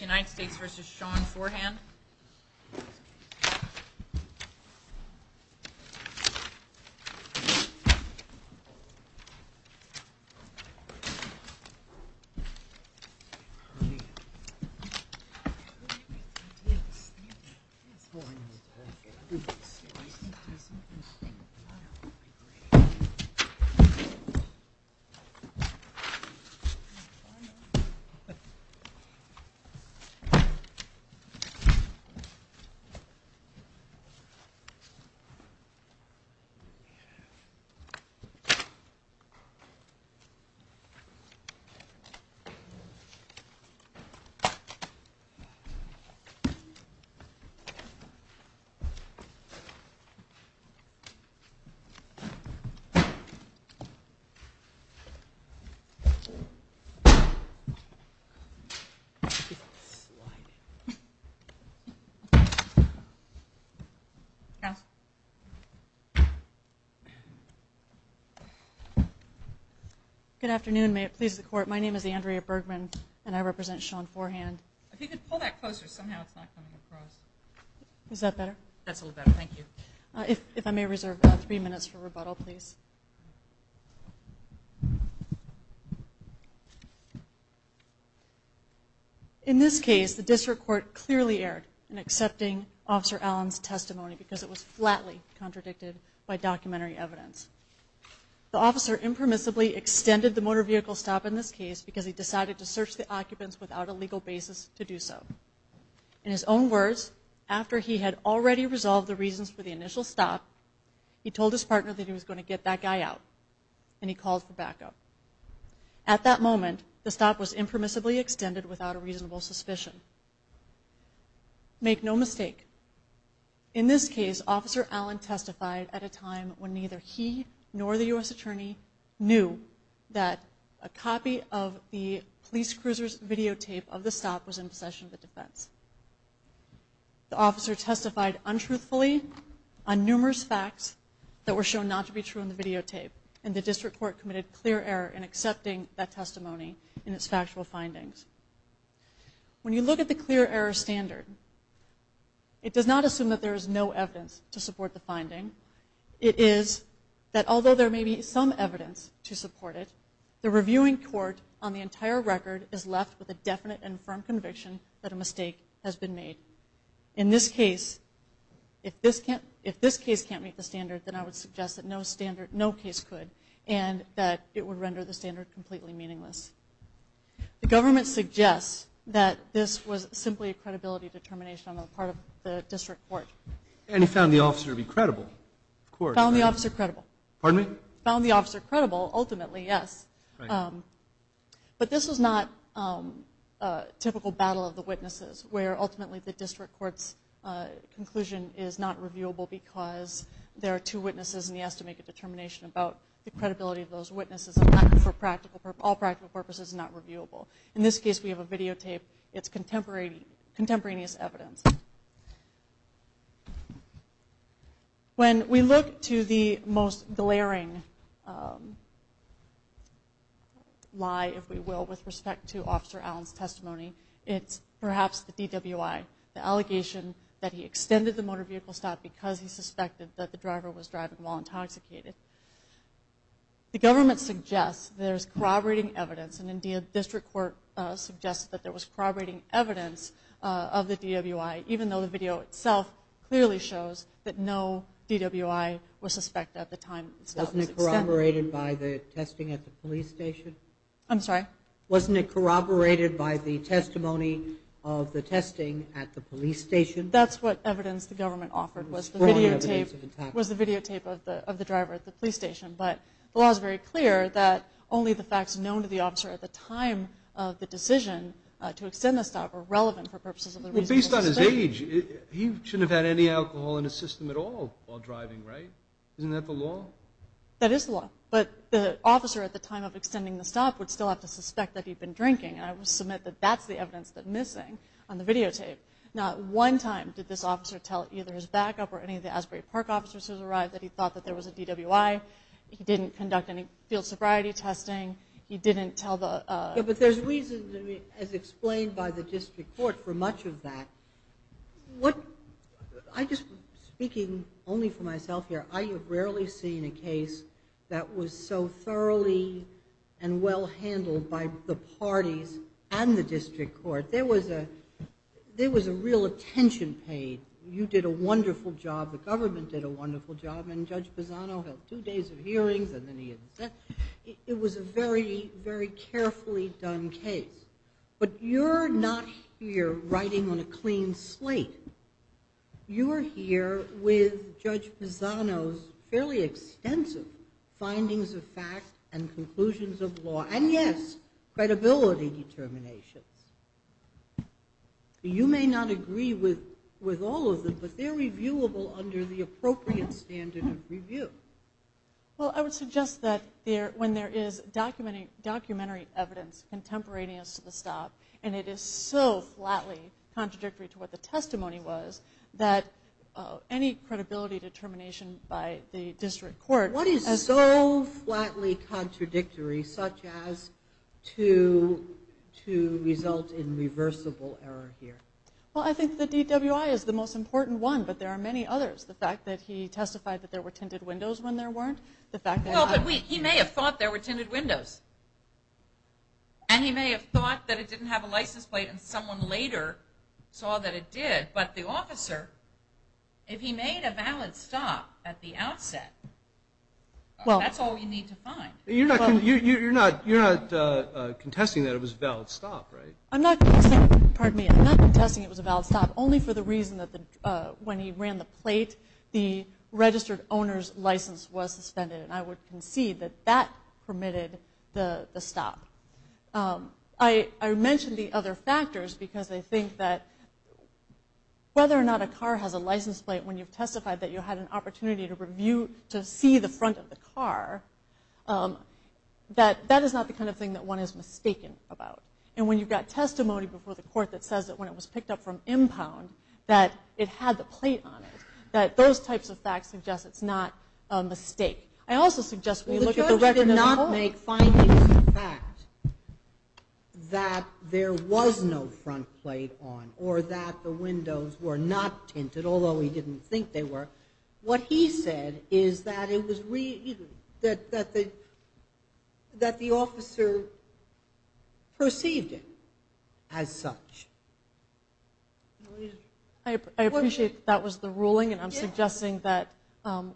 United States v. Sean Forehand United States v. Sean Forehand Good afternoon. May it please the Court, my name is Andrea Bergman and I represent Sean Forehand. If you could pull that closer, somehow it's not coming across. Is that better? That's a little better, thank you. If I may reserve three minutes for rebuttal, please. In this case, the District Court clearly erred in accepting Officer Allen's testimony because it was flatly contradicted by documentary evidence. The officer impermissibly extended the motor vehicle stop in this case because he decided to search the occupants without a legal basis to do so. In his own words, after he had already resolved the reasons for the initial stop, he told his partner that he was going to get that guy out and he called for backup. At that moment, the stop was impermissibly extended without a reasonable suspicion. Make no mistake, in this case, Officer Allen testified at a time when neither he nor the U.S. Attorney knew that a copy of the police cruiser's videotape of the stop was in possession of the defense. The officer testified untruthfully on numerous facts that were shown not to be true in the videotape, and the District Court committed clear error in accepting that testimony and its factual findings. When you look at the clear error standard, it does not assume that there is no evidence to support the finding. It is that although there may be some evidence to support it, the reviewing court on the entire record is left with a definite and firm conviction that a mistake has been made. In this case, if this case can't meet the standard, then I would suggest that no case could and that it would render the standard completely meaningless. The government suggests that this was simply a credibility determination on the part of the District Court. And he found the officer to be credible, of course. Found the officer credible. Pardon me? Found the officer credible, ultimately, yes. But this was not a typical battle of the witnesses, where ultimately the District Court's conclusion is not reviewable because there are two witnesses, and he has to make a determination about the credibility of those witnesses. And for all practical purposes, not reviewable. In this case, we have a videotape. It's contemporaneous evidence. When we look to the most glaring lie, if we will, with respect to Officer Allen's testimony, it's perhaps the DWI, the allegation that he extended the motor vehicle stop because he suspected that the driver was driving while intoxicated. The government suggests there's corroborating evidence, and indeed the District Court suggested that there was corroborating evidence of the DWI, even though the video itself clearly shows that no DWI was suspected at the time. Wasn't it corroborated by the testing at the police station? I'm sorry? Wasn't it corroborated by the testimony of the testing at the police station? That's what evidence the government offered, was the videotape of the driver at the police station. But the law is very clear that only the facts known to the officer at the time of the decision to extend the stop are relevant for purposes of the reasonable suspicion. Well, based on his age, he shouldn't have had any alcohol in his system at all while driving, right? Isn't that the law? That is the law. But the officer at the time of extending the stop would still have to suspect that he'd been drinking, and I would submit that that's the evidence that's missing on the videotape. Not one time did this officer tell either his backup or any of the Asbury Park officers who had arrived that he thought that there was a DWI. He didn't conduct any field sobriety testing. He didn't tell the... Yeah, but there's reason, as explained by the district court, for much of that. I'm just speaking only for myself here. I have rarely seen a case that was so thoroughly and well handled by the parties and the district court. There was a real attention paid. You did a wonderful job. The government did a wonderful job, and Judge Bozzano held two days of hearings, and then he... It was a very, very carefully done case. But you're not here writing on a clean slate. You are here with Judge Bozzano's fairly extensive findings of fact and conclusions of law, and, yes, credibility determinations. You may not agree with all of them, Well, I would suggest that when there is documentary evidence contemporaneous to the stop, and it is so flatly contradictory to what the testimony was, that any credibility determination by the district court... What is so flatly contradictory, such as to result in reversible error here? Well, I think the DWI is the most important one, but there are many others. The fact that he testified that there were tinted windows when there weren't. Well, but he may have thought there were tinted windows, and he may have thought that it didn't have a license plate, and someone later saw that it did. But the officer, if he made a valid stop at the outset, that's all we need to find. You're not contesting that it was a valid stop, right? I'm not contesting it was a valid stop, only for the reason that when he ran the plate, the registered owner's license was suspended, and I would concede that that permitted the stop. I mentioned the other factors, because I think that whether or not a car has a license plate, when you've testified that you had an opportunity to see the front of the car, that is not the kind of thing that one is mistaken about. And when you've got testimony before the court that says that when it was picked up from Impound that it had the plate on it, that those types of facts suggest it's not a mistake. I also suggest when you look at the record of the car. The judge did not make findings of the fact that there was no front plate on or that the windows were not tinted, although he didn't think they were. What he said is that the officer perceived it as such. I appreciate that was the ruling, and I'm suggesting that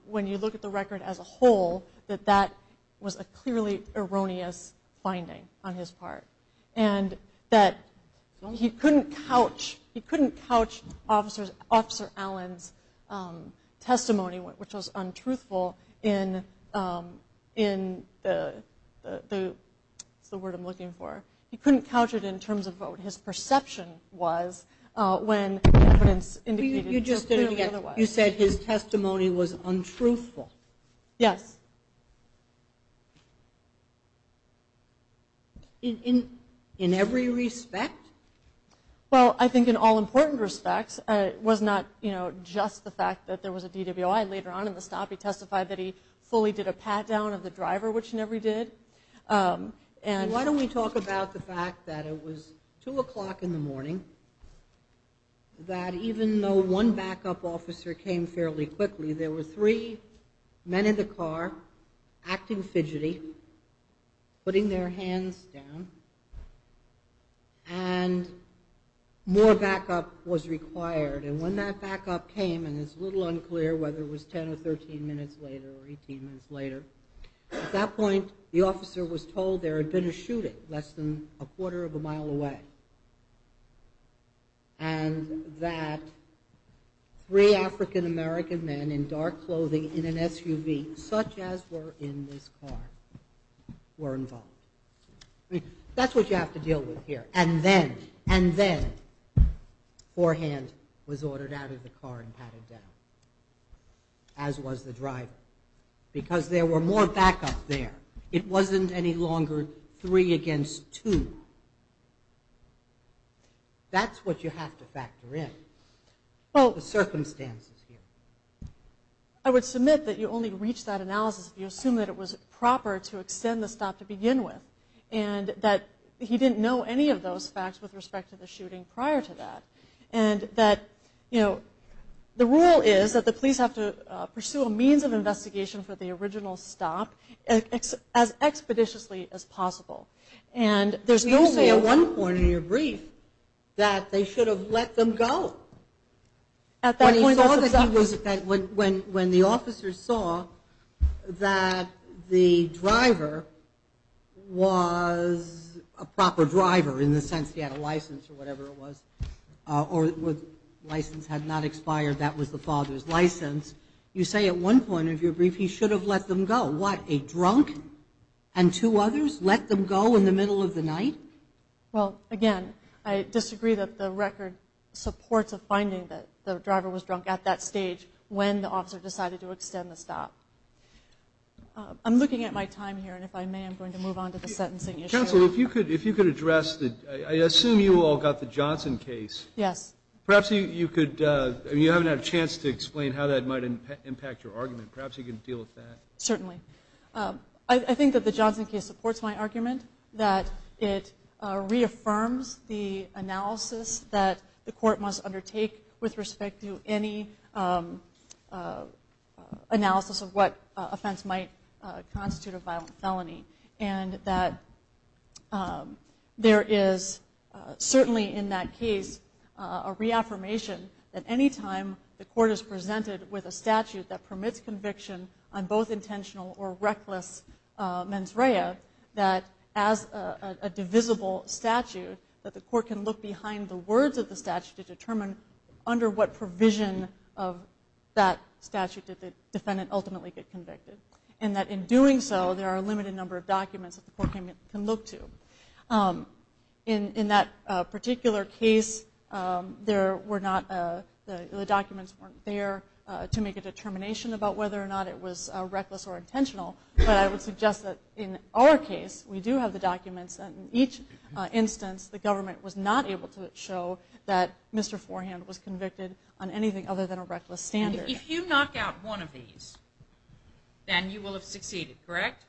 when you look at the record as a whole, that that was a clearly erroneous finding on his part, and that he couldn't couch Officer Allen's testimony, which was untruthful in the... What's the word I'm looking for? He couldn't couch it in terms of what his perception was when evidence indicated... You said his testimony was untruthful. Yes. In every respect? Well, I think in all important respects. It was not just the fact that there was a DWI later on in the stop. He testified that he fully did a pat-down of the driver, which he never did. Why don't we talk about the fact that it was 2 o'clock in the morning, that even though one backup officer came fairly quickly, there were three men in the car acting fidgety, putting their hands down, and more backup was required. And when that backup came, and it's a little unclear whether it was 10 or 13 minutes later or 18 minutes later, at that point the officer was told there had been a shooting less than a quarter of a mile away, and that three African-American men in dark clothing in an SUV, such as were in this car, were involved. That's what you have to deal with here. And then forehand was ordered out of the car and patted down, as was the driver, because there were more backup there. It wasn't any longer three against two. That's what you have to factor in, the circumstances here. I would submit that you only reach that analysis if you assume that it was proper to extend the stop to begin with, and that he didn't know any of those facts with respect to the shooting prior to that, and that the rule is that the police have to pursue a means of investigation for the original stop as expeditiously as possible. And there's no way at one point in your brief that they should have let them go. When the officers saw that the driver was a proper driver, in the sense he had a license or whatever it was, or the license had not expired, that was the father's license, you say at one point of your brief he should have let them go. What, a drunk and two others let them go in the middle of the night? Well, again, I disagree that the record supports a finding that the driver was drunk at that stage when the officer decided to extend the stop. I'm looking at my time here, and if I may I'm going to move on to the sentencing issue. Counsel, if you could address the – I assume you all got the Johnson case. Yes. Perhaps you could – you haven't had a chance to explain how that might impact your argument. Perhaps you can deal with that. Certainly. I think that the Johnson case supports my argument that it reaffirms the analysis that the court must undertake with respect to any analysis of what offense might constitute a violent felony, and that there is certainly in that case a reaffirmation that any time the court is presented with a statute that permits conviction on both intentional or reckless mens rea, that as a divisible statute, that the court can look behind the words of the statute to determine under what provision of that statute did the defendant ultimately get convicted, and that in doing so there are a limited number of documents that the court can look to. In that particular case, the documents weren't there to make a determination about whether or not it was reckless or intentional, but I would suggest that in our case we do have the documents and in each instance the government was not able to show that Mr. Forehand was convicted on anything other than a reckless standard. If you knock out one of these, then you will have succeeded, correct?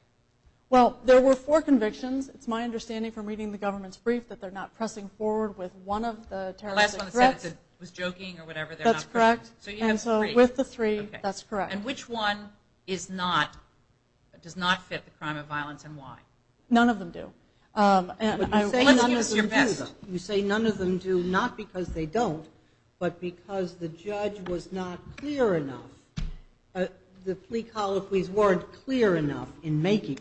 Well, there were four convictions. It's my understanding from reading the government's brief that they're not pressing forward with one of the terrorist threats. The last one was joking or whatever. That's correct. And so with the three, that's correct. And which one does not fit the crime of violence and why? None of them do. Unless you give us your best. You say none of them do not because they don't, but because the judge was not clear enough, the plea colloquies weren't clear enough in making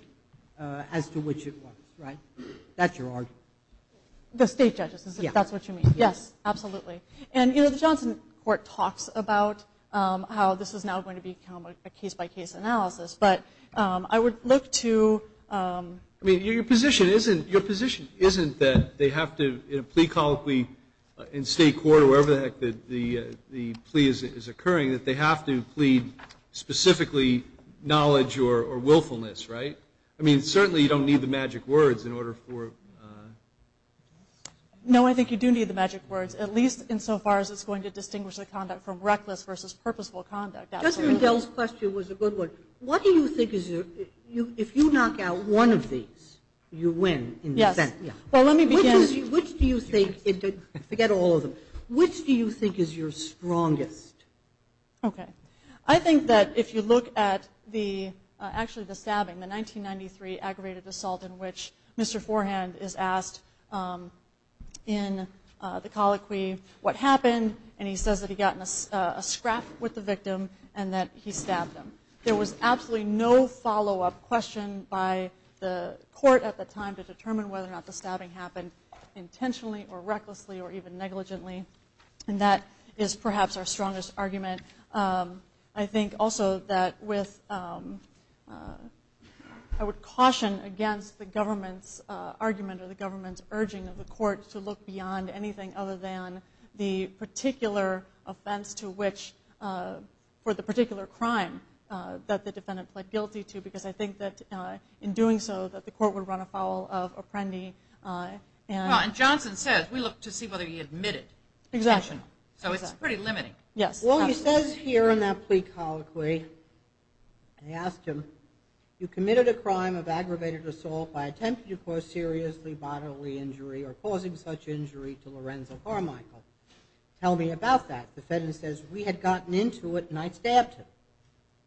as to which it was, right? That's your argument. The state judges, is that what you mean? Yes. Yes, absolutely. And, you know, the Johnson court talks about how this is now going to become a case-by-case analysis, but I would look to – I mean, your position isn't that they have to, in a plea colloquy, in state court or wherever the heck the plea is occurring, that they have to plead specifically knowledge or willfulness, right? I mean, certainly you don't need the magic words in order for – No, I think you do need the magic words. At least insofar as it's going to distinguish the conduct from reckless versus purposeful conduct. Absolutely. Judge Rendell's question was a good one. What do you think is your – if you knock out one of these, you win. Yes. Well, let me begin – Which do you think – forget all of them. Which do you think is your strongest? Okay. I think that if you look at the – actually the stabbing, the 1993 aggravated assault in which Mr. Forehand is asked in the colloquy what happened, and he says that he got in a scrap with the victim and that he stabbed him. There was absolutely no follow-up question by the court at the time to determine whether or not the stabbing happened intentionally or recklessly or even negligently, and that is perhaps our strongest argument. I think also that with – I would caution against the government's argument or the government's urging of the court to look beyond anything other than the particular offense to which – for the particular crime that the defendant pled guilty to because I think that in doing so that the court would run afoul of Apprendi. Well, and Johnson says we look to see whether he admitted. Exactly. So it's pretty limiting. Yes. Well, he says here in that plea colloquy, they asked him, you committed a crime of aggravated assault by attempting to cause seriously bodily injury or causing such injury to Lorenzo Carmichael. Tell me about that. The defendant says, we had gotten into it and I stabbed him.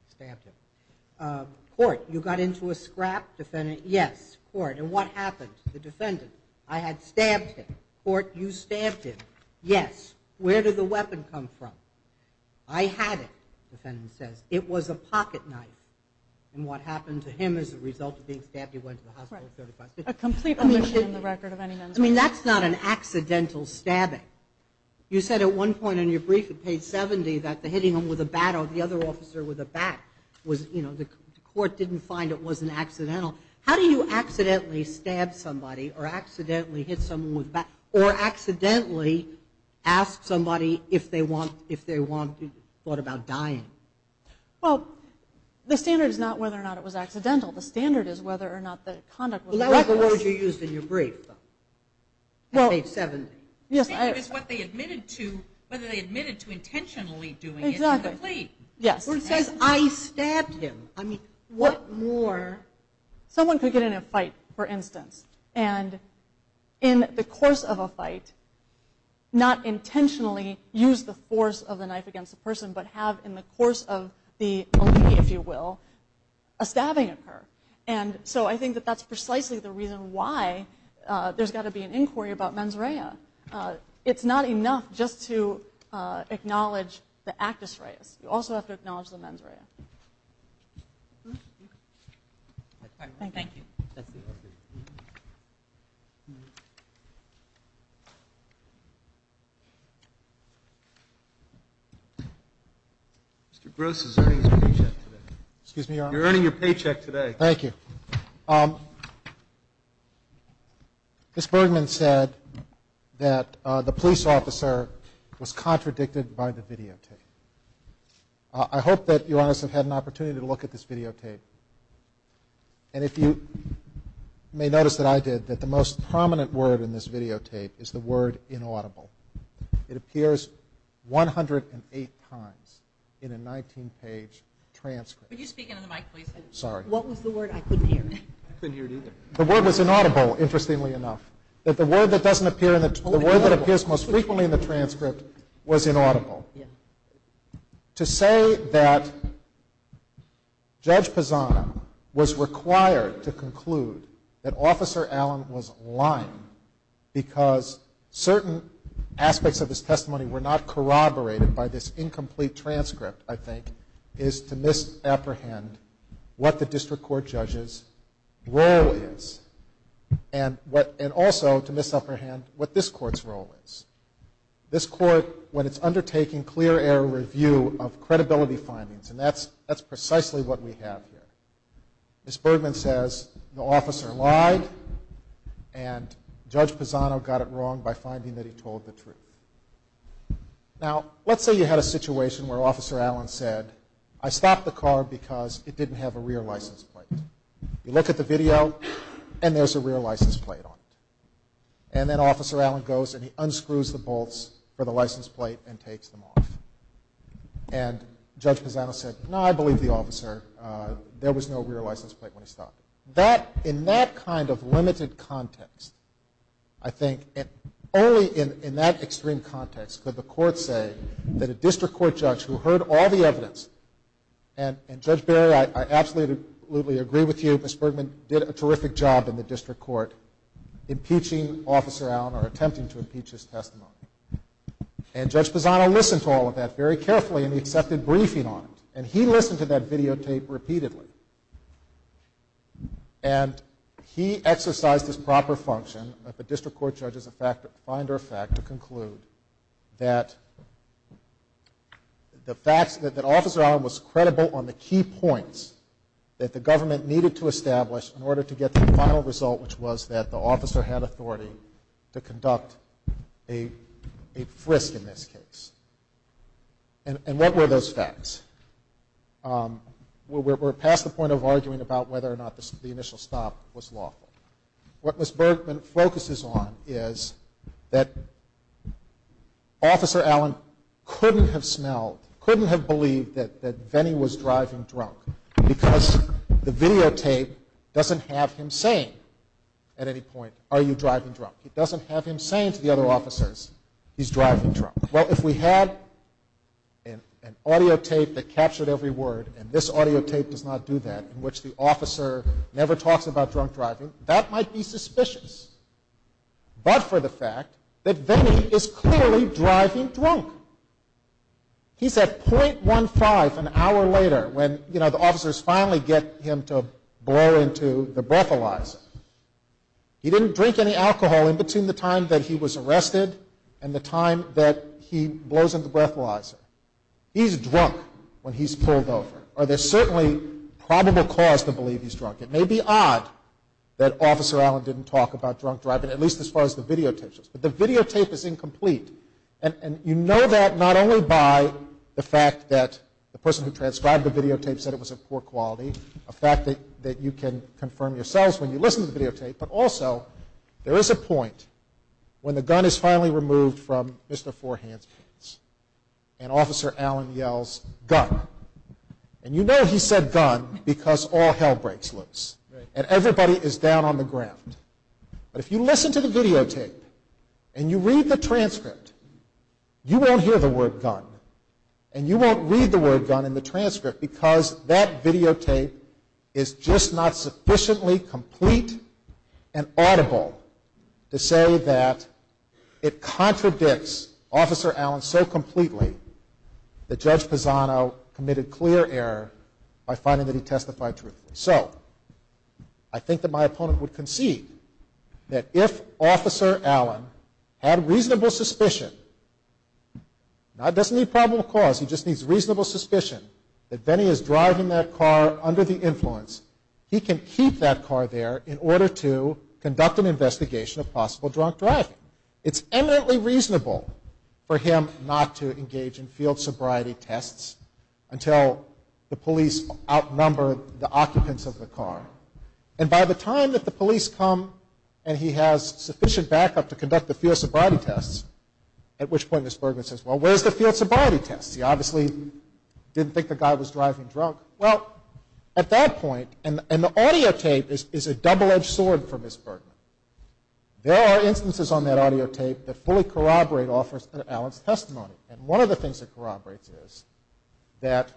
Stabbed him. Court, you got into a scrap? Defendant, yes. Court, and what happened? The defendant, I had stabbed him. Court, you stabbed him. Yes. Where did the weapon come from? I had it, the defendant says. It was a pocket knife. And what happened to him as a result of being stabbed, he went to the hospital at 35. A complete omission in the record of any men's violence. I mean, that's not an accidental stabbing. You said at one point in your brief at page 70 that the hitting him with a bat or the other officer with a bat was, you know, the court didn't find it was an accidental. How do you accidentally stab somebody or accidentally hit someone with a bat or accidentally ask somebody if they thought about dying? Well, the standard is not whether or not it was accidental. The standard is whether or not the conduct was reckless. Well, that was the word you used in your brief at page 70. Yes. I think it was what they admitted to, whether they admitted to intentionally doing it to the plea. Exactly. Yes. Or it says, I stabbed him. I mean, what more? Someone could get in a fight, for instance, and in the course of a fight not intentionally use the force of the knife against a person but have in the course of the felony, if you will, a stabbing occur. And so I think that that's precisely the reason why there's got to be an inquiry about mens rea. It's not enough just to acknowledge the actus reus. You also have to acknowledge the mens rea. Okay. Thank you. Mr. Gross is earning his paycheck today. Excuse me, Your Honor? You're earning your paycheck today. Thank you. Ms. Bergman said that the police officer was contradicted by the videotape. I hope that Your Honors have had an opportunity to look at this videotape. And if you may notice that I did, that the most prominent word in this videotape is the word inaudible. It appears 108 times in a 19-page transcript. Could you speak into the mic, please? Sorry. What was the word I couldn't hear? I couldn't hear it either. The word was inaudible, interestingly enough. The word that appears most frequently in the transcript was inaudible. To say that Judge Pisano was required to conclude that Officer Allen was lying because certain aspects of his testimony were not corroborated by this incomplete transcript, I think, is to misapprehend what the district court judge's role is. And also to misapprehend what this court's role is. This court, when it's undertaking clear air review of credibility findings, and that's precisely what we have here. Ms. Bergman says the officer lied, and Judge Pisano got it wrong by finding that he told the truth. Now, let's say you had a situation where Officer Allen said, I stopped the car because it didn't have a rear license plate. You look at the video, and there's a rear license plate on it. And then Officer Allen goes and he unscrews the bolts for the license plate and takes them off. And Judge Pisano said, no, I believe the officer. There was no rear license plate when he stopped. In that kind of limited context, I think, only in that extreme context could the court say that a district court judge who heard all the evidence, and Judge Berry, I absolutely agree with you. Ms. Bergman did a terrific job in the district court impeaching Officer Allen or attempting to impeach his testimony. And Judge Pisano listened to all of that very carefully, and he accepted briefing on it. And he listened to that videotape repeatedly. And he exercised his proper function of a district court judge as a finder of fact to conclude that Officer Allen was credible on the key points that the government needed to establish in order to get the final result, which was that the officer had authority to conduct a frisk in this case. And what were those facts? We're past the point of arguing about whether or not the initial stop was lawful. What Ms. Bergman focuses on is that Officer Allen couldn't have smelled, couldn't have believed that Vennie was driving drunk because the videotape doesn't have him saying at any point, are you driving drunk? It doesn't have him saying to the other officers, he's driving drunk. Well, if we had an audio tape that captured every word, and this audio tape does not do that, in which the officer never talks about drunk driving, that might be suspicious, but for the fact that Vennie is clearly driving drunk. He's at .15 an hour later when, you know, the officers finally get him to blow into the breathalyzer. He didn't drink any alcohol in between the time that he was arrested and the time that he blows into the breathalyzer. He's drunk when he's pulled over. There's certainly probable cause to believe he's drunk. It may be odd that Officer Allen didn't talk about drunk driving, at least as far as the videotape shows, but the videotape is incomplete. And you know that not only by the fact that the person who transcribed the videotape said it was of poor quality, a fact that you can confirm yourselves when you listen to the videotape, but also there is a point when the gun is finally removed from Mr. Forehand's pants, and Officer Allen yells, gun. And you know he said gun because all hell breaks loose, and everybody is down on the ground. But if you listen to the videotape and you read the transcript, you won't hear the word gun, and you won't read the word gun in the transcript, because that videotape is just not sufficiently complete and audible to say that it contradicts Officer Allen so completely that Judge Pisano committed clear error by finding that he testified truthfully. So I think that my opponent would concede that if Officer Allen had reasonable suspicion, he doesn't need probable cause, he just needs reasonable suspicion, that Benny is driving that car under the influence, he can keep that car there in order to conduct an investigation of possible drunk driving. It's eminently reasonable for him not to engage in field sobriety tests until the police outnumber the occupants of the car. And by the time that the police come and he has sufficient backup to conduct the field sobriety tests, at which point Ms. Bergman says, well, where's the field sobriety tests? He obviously didn't think the guy was driving drunk. Well, at that point, and the audio tape is a double-edged sword for Ms. Bergman, there are instances on that audio tape that fully corroborate Officer Allen's testimony. And one of the things that corroborates is that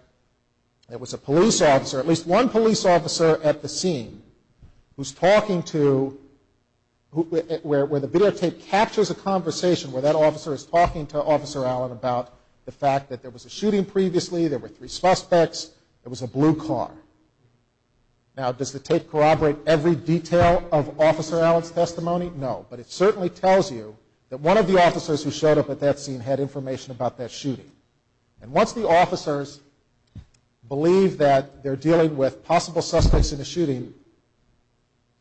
there was a police officer, at least one police officer at the scene who's talking to, where the videotape captures a conversation where that officer is talking to Officer Allen about the fact that there was a shooting previously, there were three suspects, there was a blue car. Now, does the tape corroborate every detail of Officer Allen's testimony? No, but it certainly tells you that one of the officers who showed up at that scene had information about that shooting. And once the officers believe that they're dealing with possible suspects in a shooting,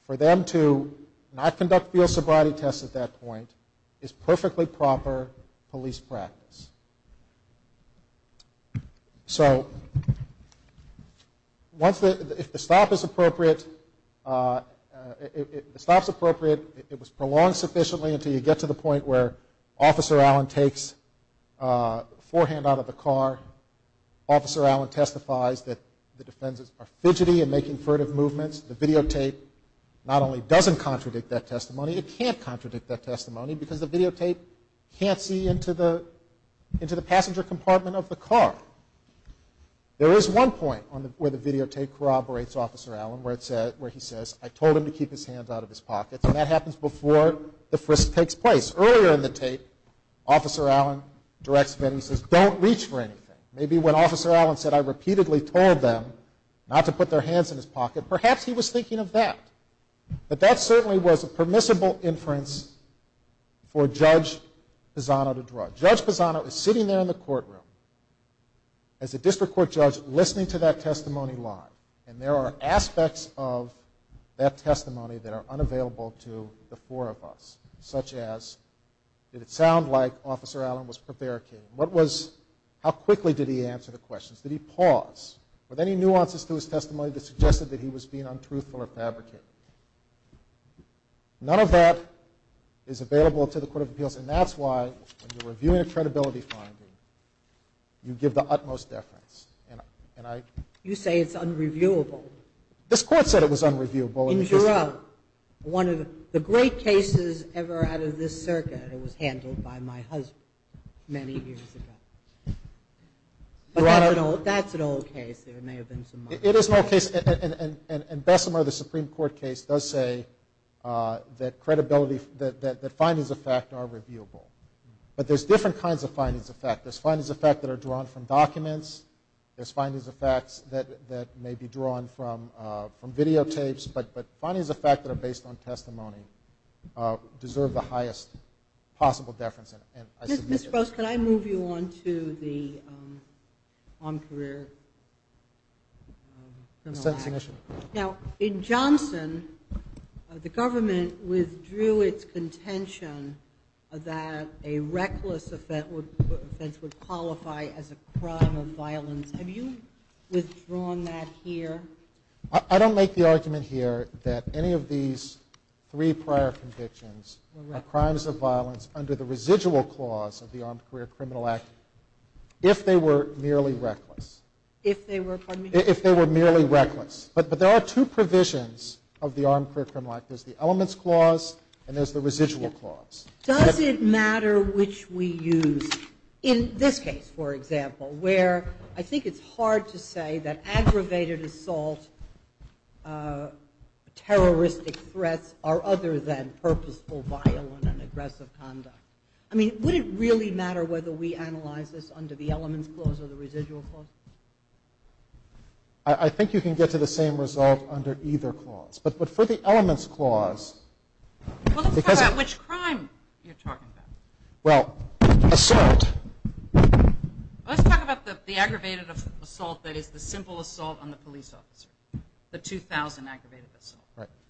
for them to not conduct field sobriety tests at that point is perfectly proper police practice. So, if the stop is appropriate, it was prolonged sufficiently until you get to the point where Officer Allen takes a forehand out of the car. Officer Allen testifies that the defenses are fidgety and making furtive movements. The videotape not only doesn't contradict that testimony, it can't contradict that testimony because the videotape can't see into the passenger compartment of the car. There is one point where the videotape corroborates Officer Allen, where he says, I told him to keep his hands out of his pockets, and that happens before the frisk takes place. Because earlier in the tape, Officer Allen directs him and he says, don't reach for anything. Maybe when Officer Allen said, I repeatedly told them not to put their hands in his pocket, perhaps he was thinking of that. But that certainly was a permissible inference for Judge Pisano to draw. Judge Pisano is sitting there in the courtroom as a district court judge, listening to that testimony live. And there are aspects of that testimony that are unavailable to the four of us, such as did it sound like Officer Allen was prevaricating? How quickly did he answer the questions? Did he pause? Were there any nuances to his testimony that suggested that he was being untruthful or fabricating? None of that is available to the Court of Appeals, and that's why when you're reviewing a credibility finding, you give the utmost deference. You say it's unreviewable. This Court said it was unreviewable. One of the great cases ever out of this circuit was handled by my husband many years ago. That's an old case. It is an old case, and Bessemer, the Supreme Court case, does say that findings of fact are reviewable. But there's different kinds of findings of fact. There's findings of fact that are drawn from documents. There's findings of facts that may be drawn from videotapes. But findings of fact that are based on testimony deserve the highest possible deference, and I submit it. Ms. Gross, can I move you on to the armed career criminal act? Now, in Johnson, the government withdrew its contention that a reckless offense would qualify as a crime of violence. Have you withdrawn that here? I don't make the argument here that any of these three prior convictions are crimes of violence under the residual clause of the armed career criminal act, if they were merely reckless. If they were, pardon me? If they were merely reckless. But there are two provisions of the armed career criminal act. There's the elements clause, and there's the residual clause. Does it matter which we use? In this case, for example, where I think it's hard to say that aggravated assault, terroristic threats, are other than purposeful, violent, and aggressive conduct. I mean, would it really matter whether we analyze this under the elements clause or the residual clause? I think you can get to the same result under either clause. But for the elements clause, because it… Well, let's talk about which crime you're talking about. Well, assault. Let's talk about the aggravated assault that is the simple assault on the police officer, the 2,000 aggravated assault.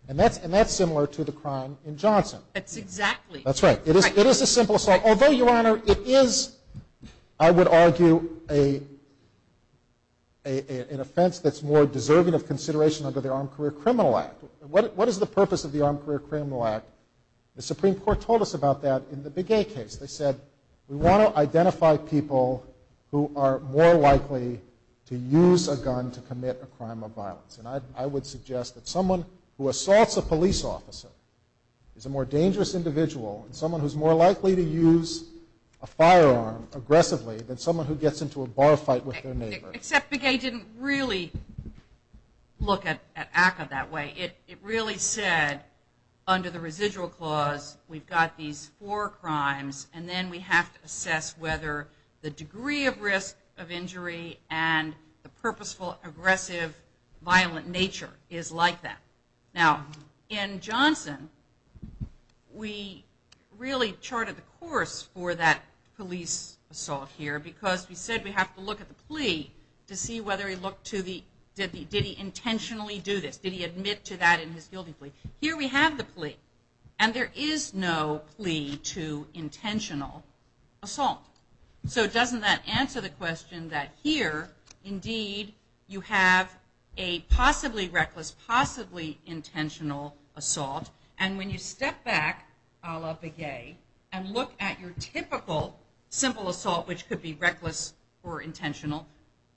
And that's similar to the crime in Johnson. That's exactly. That's right. It is a simple assault. Although, Your Honor, it is, I would argue, an offense that's more deserving of consideration under the armed career criminal act. What is the purpose of the armed career criminal act? The Supreme Court told us about that in the Begay case. They said, we want to identify people who are more likely to use a gun to commit a crime of violence. And I would suggest that someone who assaults a police officer is a more dangerous individual, and someone who's more likely to use a firearm aggressively than someone who gets into a bar fight with their neighbor. Except Begay didn't really look at ACCA that way. It really said, under the residual clause, we've got these four crimes, and then we have to assess whether the degree of risk of injury and the purposeful, aggressive, violent nature is like that. Now, in Johnson, we really charted the course for that police assault here because we said we have to look at the plea to see whether he looked to the, did he intentionally do this? Did he admit to that in his guilty plea? Here we have the plea, and there is no plea to intentional assault. So doesn't that answer the question that here, indeed, you have a possibly reckless, possibly intentional assault, and when you step back, a la Begay, and look at your typical simple assault, which could be reckless or intentional,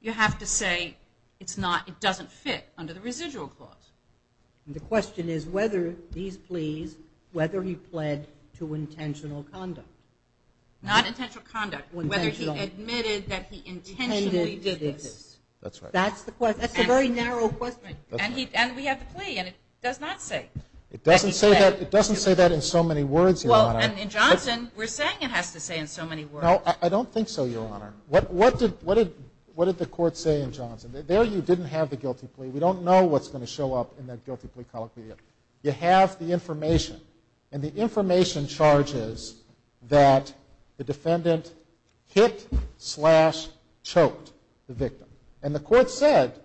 you have to say it doesn't fit under the residual clause. The question is whether these pleas, whether he pled to intentional conduct. Not intentional conduct, whether he admitted that he intentionally did this. That's the question. That's a very narrow question. And we have the plea, and it does not say. It doesn't say that in so many words, Your Honor. Well, in Johnson, we're saying it has to say in so many words. No, I don't think so, Your Honor. What did the court say in Johnson? There you didn't have the guilty plea. We don't know what's going to show up in that guilty plea colloquy yet. You have the information, and the information charges that the defendant hit slash choked the victim. And the court said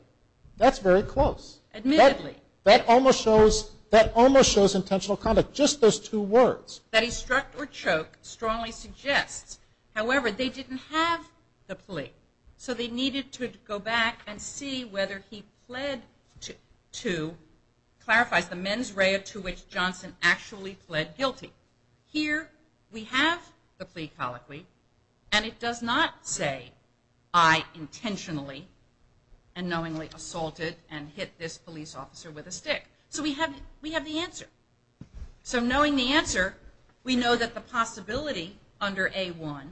that's very close. Admittedly. That almost shows intentional conduct, just those two words. That he struck or choked strongly suggests. However, they didn't have the plea. So they needed to go back and see whether he pled to, clarifies, the mens rea to which Johnson actually pled guilty. Here we have the plea colloquy, and it does not say I intentionally and knowingly assaulted and hit this police officer with a stick. So we have the answer. So knowing the answer, we know that the possibility under A-1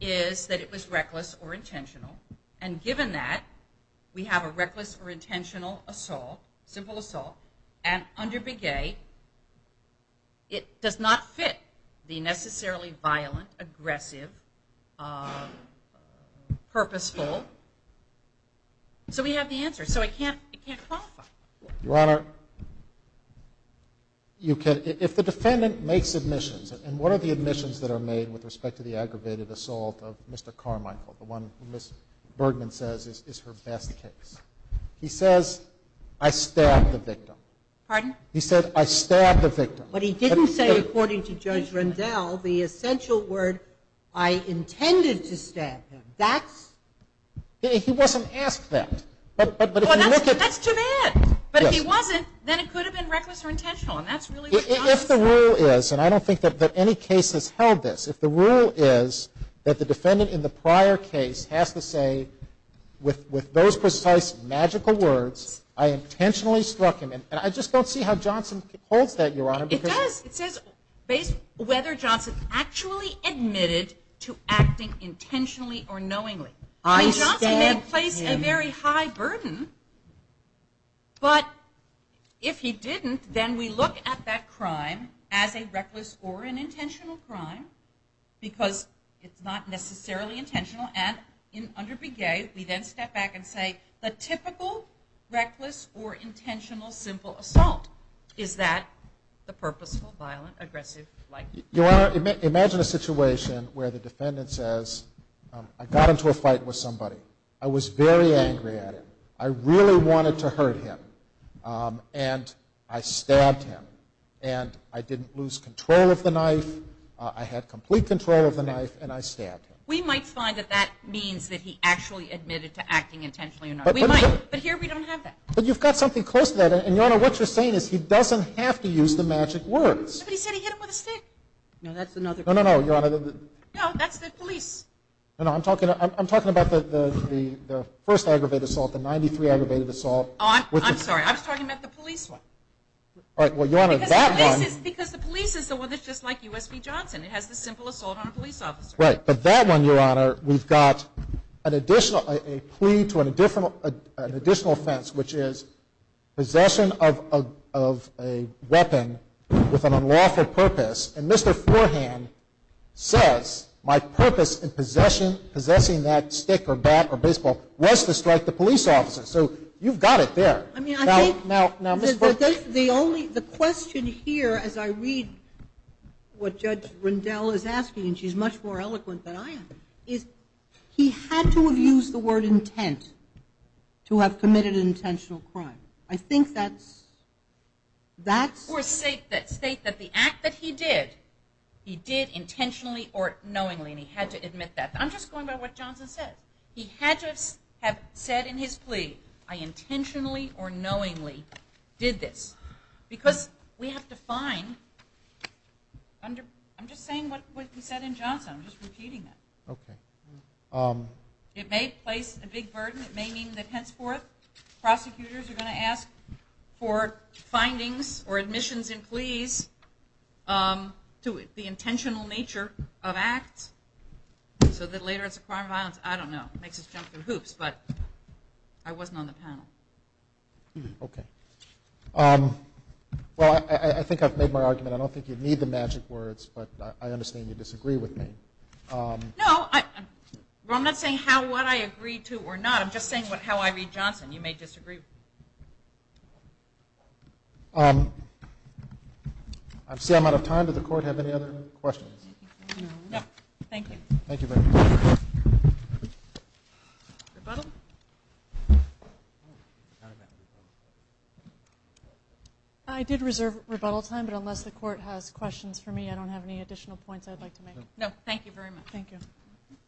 is that it was reckless or intentional. And given that, we have a reckless or intentional assault, simple assault. And under Big A, it does not fit the necessarily violent, aggressive, purposeful. So we have the answer. So it can't qualify. Your Honor, if the defendant makes admissions, and what are the admissions that are made with respect to the aggravated assault of Mr. Carmichael, the one who Ms. Bergman says is her best case? He says, I stabbed the victim. Pardon? He said, I stabbed the victim. But he didn't say, according to Judge Rendell, the essential word I intended to stab him. He wasn't asked that. That's too bad. But if he wasn't, then it could have been reckless or intentional, and that's really what Johnson said. If the rule is, and I don't think that any case has held this, if the rule is that the defendant in the prior case has to say, with those precise magical words, I intentionally struck him, and I just don't see how Johnson holds that, Your Honor. It does. It says whether Johnson actually admitted to acting intentionally or knowingly. I stabbed him. Johnson may place a very high burden, but if he didn't, then we look at that crime as a reckless or an intentional crime, because it's not necessarily intentional. And under Bigay, we then step back and say, the typical reckless or intentional simple assault is that the purposeful, violent, aggressive, likely. Your Honor, imagine a situation where the defendant says, I got into a fight with somebody. I was very angry at him. I really wanted to hurt him, and I stabbed him. And I didn't lose control of the knife. I had complete control of the knife, and I stabbed him. We might find that that means that he actually admitted to acting intentionally or knowingly. We might. But here we don't have that. But you've got something close to that. And, Your Honor, what you're saying is he doesn't have to use the magic words. But he said he hit him with a stick. No, that's another. No, no, no, Your Honor. No, that's the police. No, no, I'm talking about the first aggravated assault, the 93 aggravated assault. Oh, I'm sorry. I was talking about the police one. All right. Well, Your Honor, that one. Because the police is the one that's just like USB Johnson. It has the simple assault on a police officer. Right. But that one, Your Honor, we've got a plea to an additional offense, which is possession of a weapon with an unlawful purpose. And Mr. Forehand says my purpose in possession, possessing that stick or bat or baseball, was to strike the police officer. So you've got it there. Now, Mr. Forehand. The question here, as I read what Judge Rendell is asking, and she's much more eloquent than I am, is he had to have used the word intent to have committed an intentional crime. I think that's that's. Or state that the act that he did, he did intentionally or knowingly, and he had to admit that. I'm just going by what Johnson said. He had to have said in his plea, I intentionally or knowingly did this. Because we have to find, I'm just saying what he said in Johnson. I'm just repeating it. Okay. It may place a big burden. It may mean that henceforth prosecutors are going to ask for findings or admissions in pleas to the intentional nature of acts so that later it's a crime of violence. I don't know. It makes us jump through hoops. But I wasn't on the panel. Okay. Well, I think I've made my argument. I don't think you need the magic words, but I understand you disagree with me. No, I'm not saying what I agree to or not. I'm just saying how I read Johnson. You may disagree. I see I'm out of time. Does the Court have any other questions? No. Thank you. Thank you very much. Rebuttal? I did reserve rebuttal time, but unless the Court has questions for me, I don't have any additional points I'd like to make. No, thank you very much. Thank you.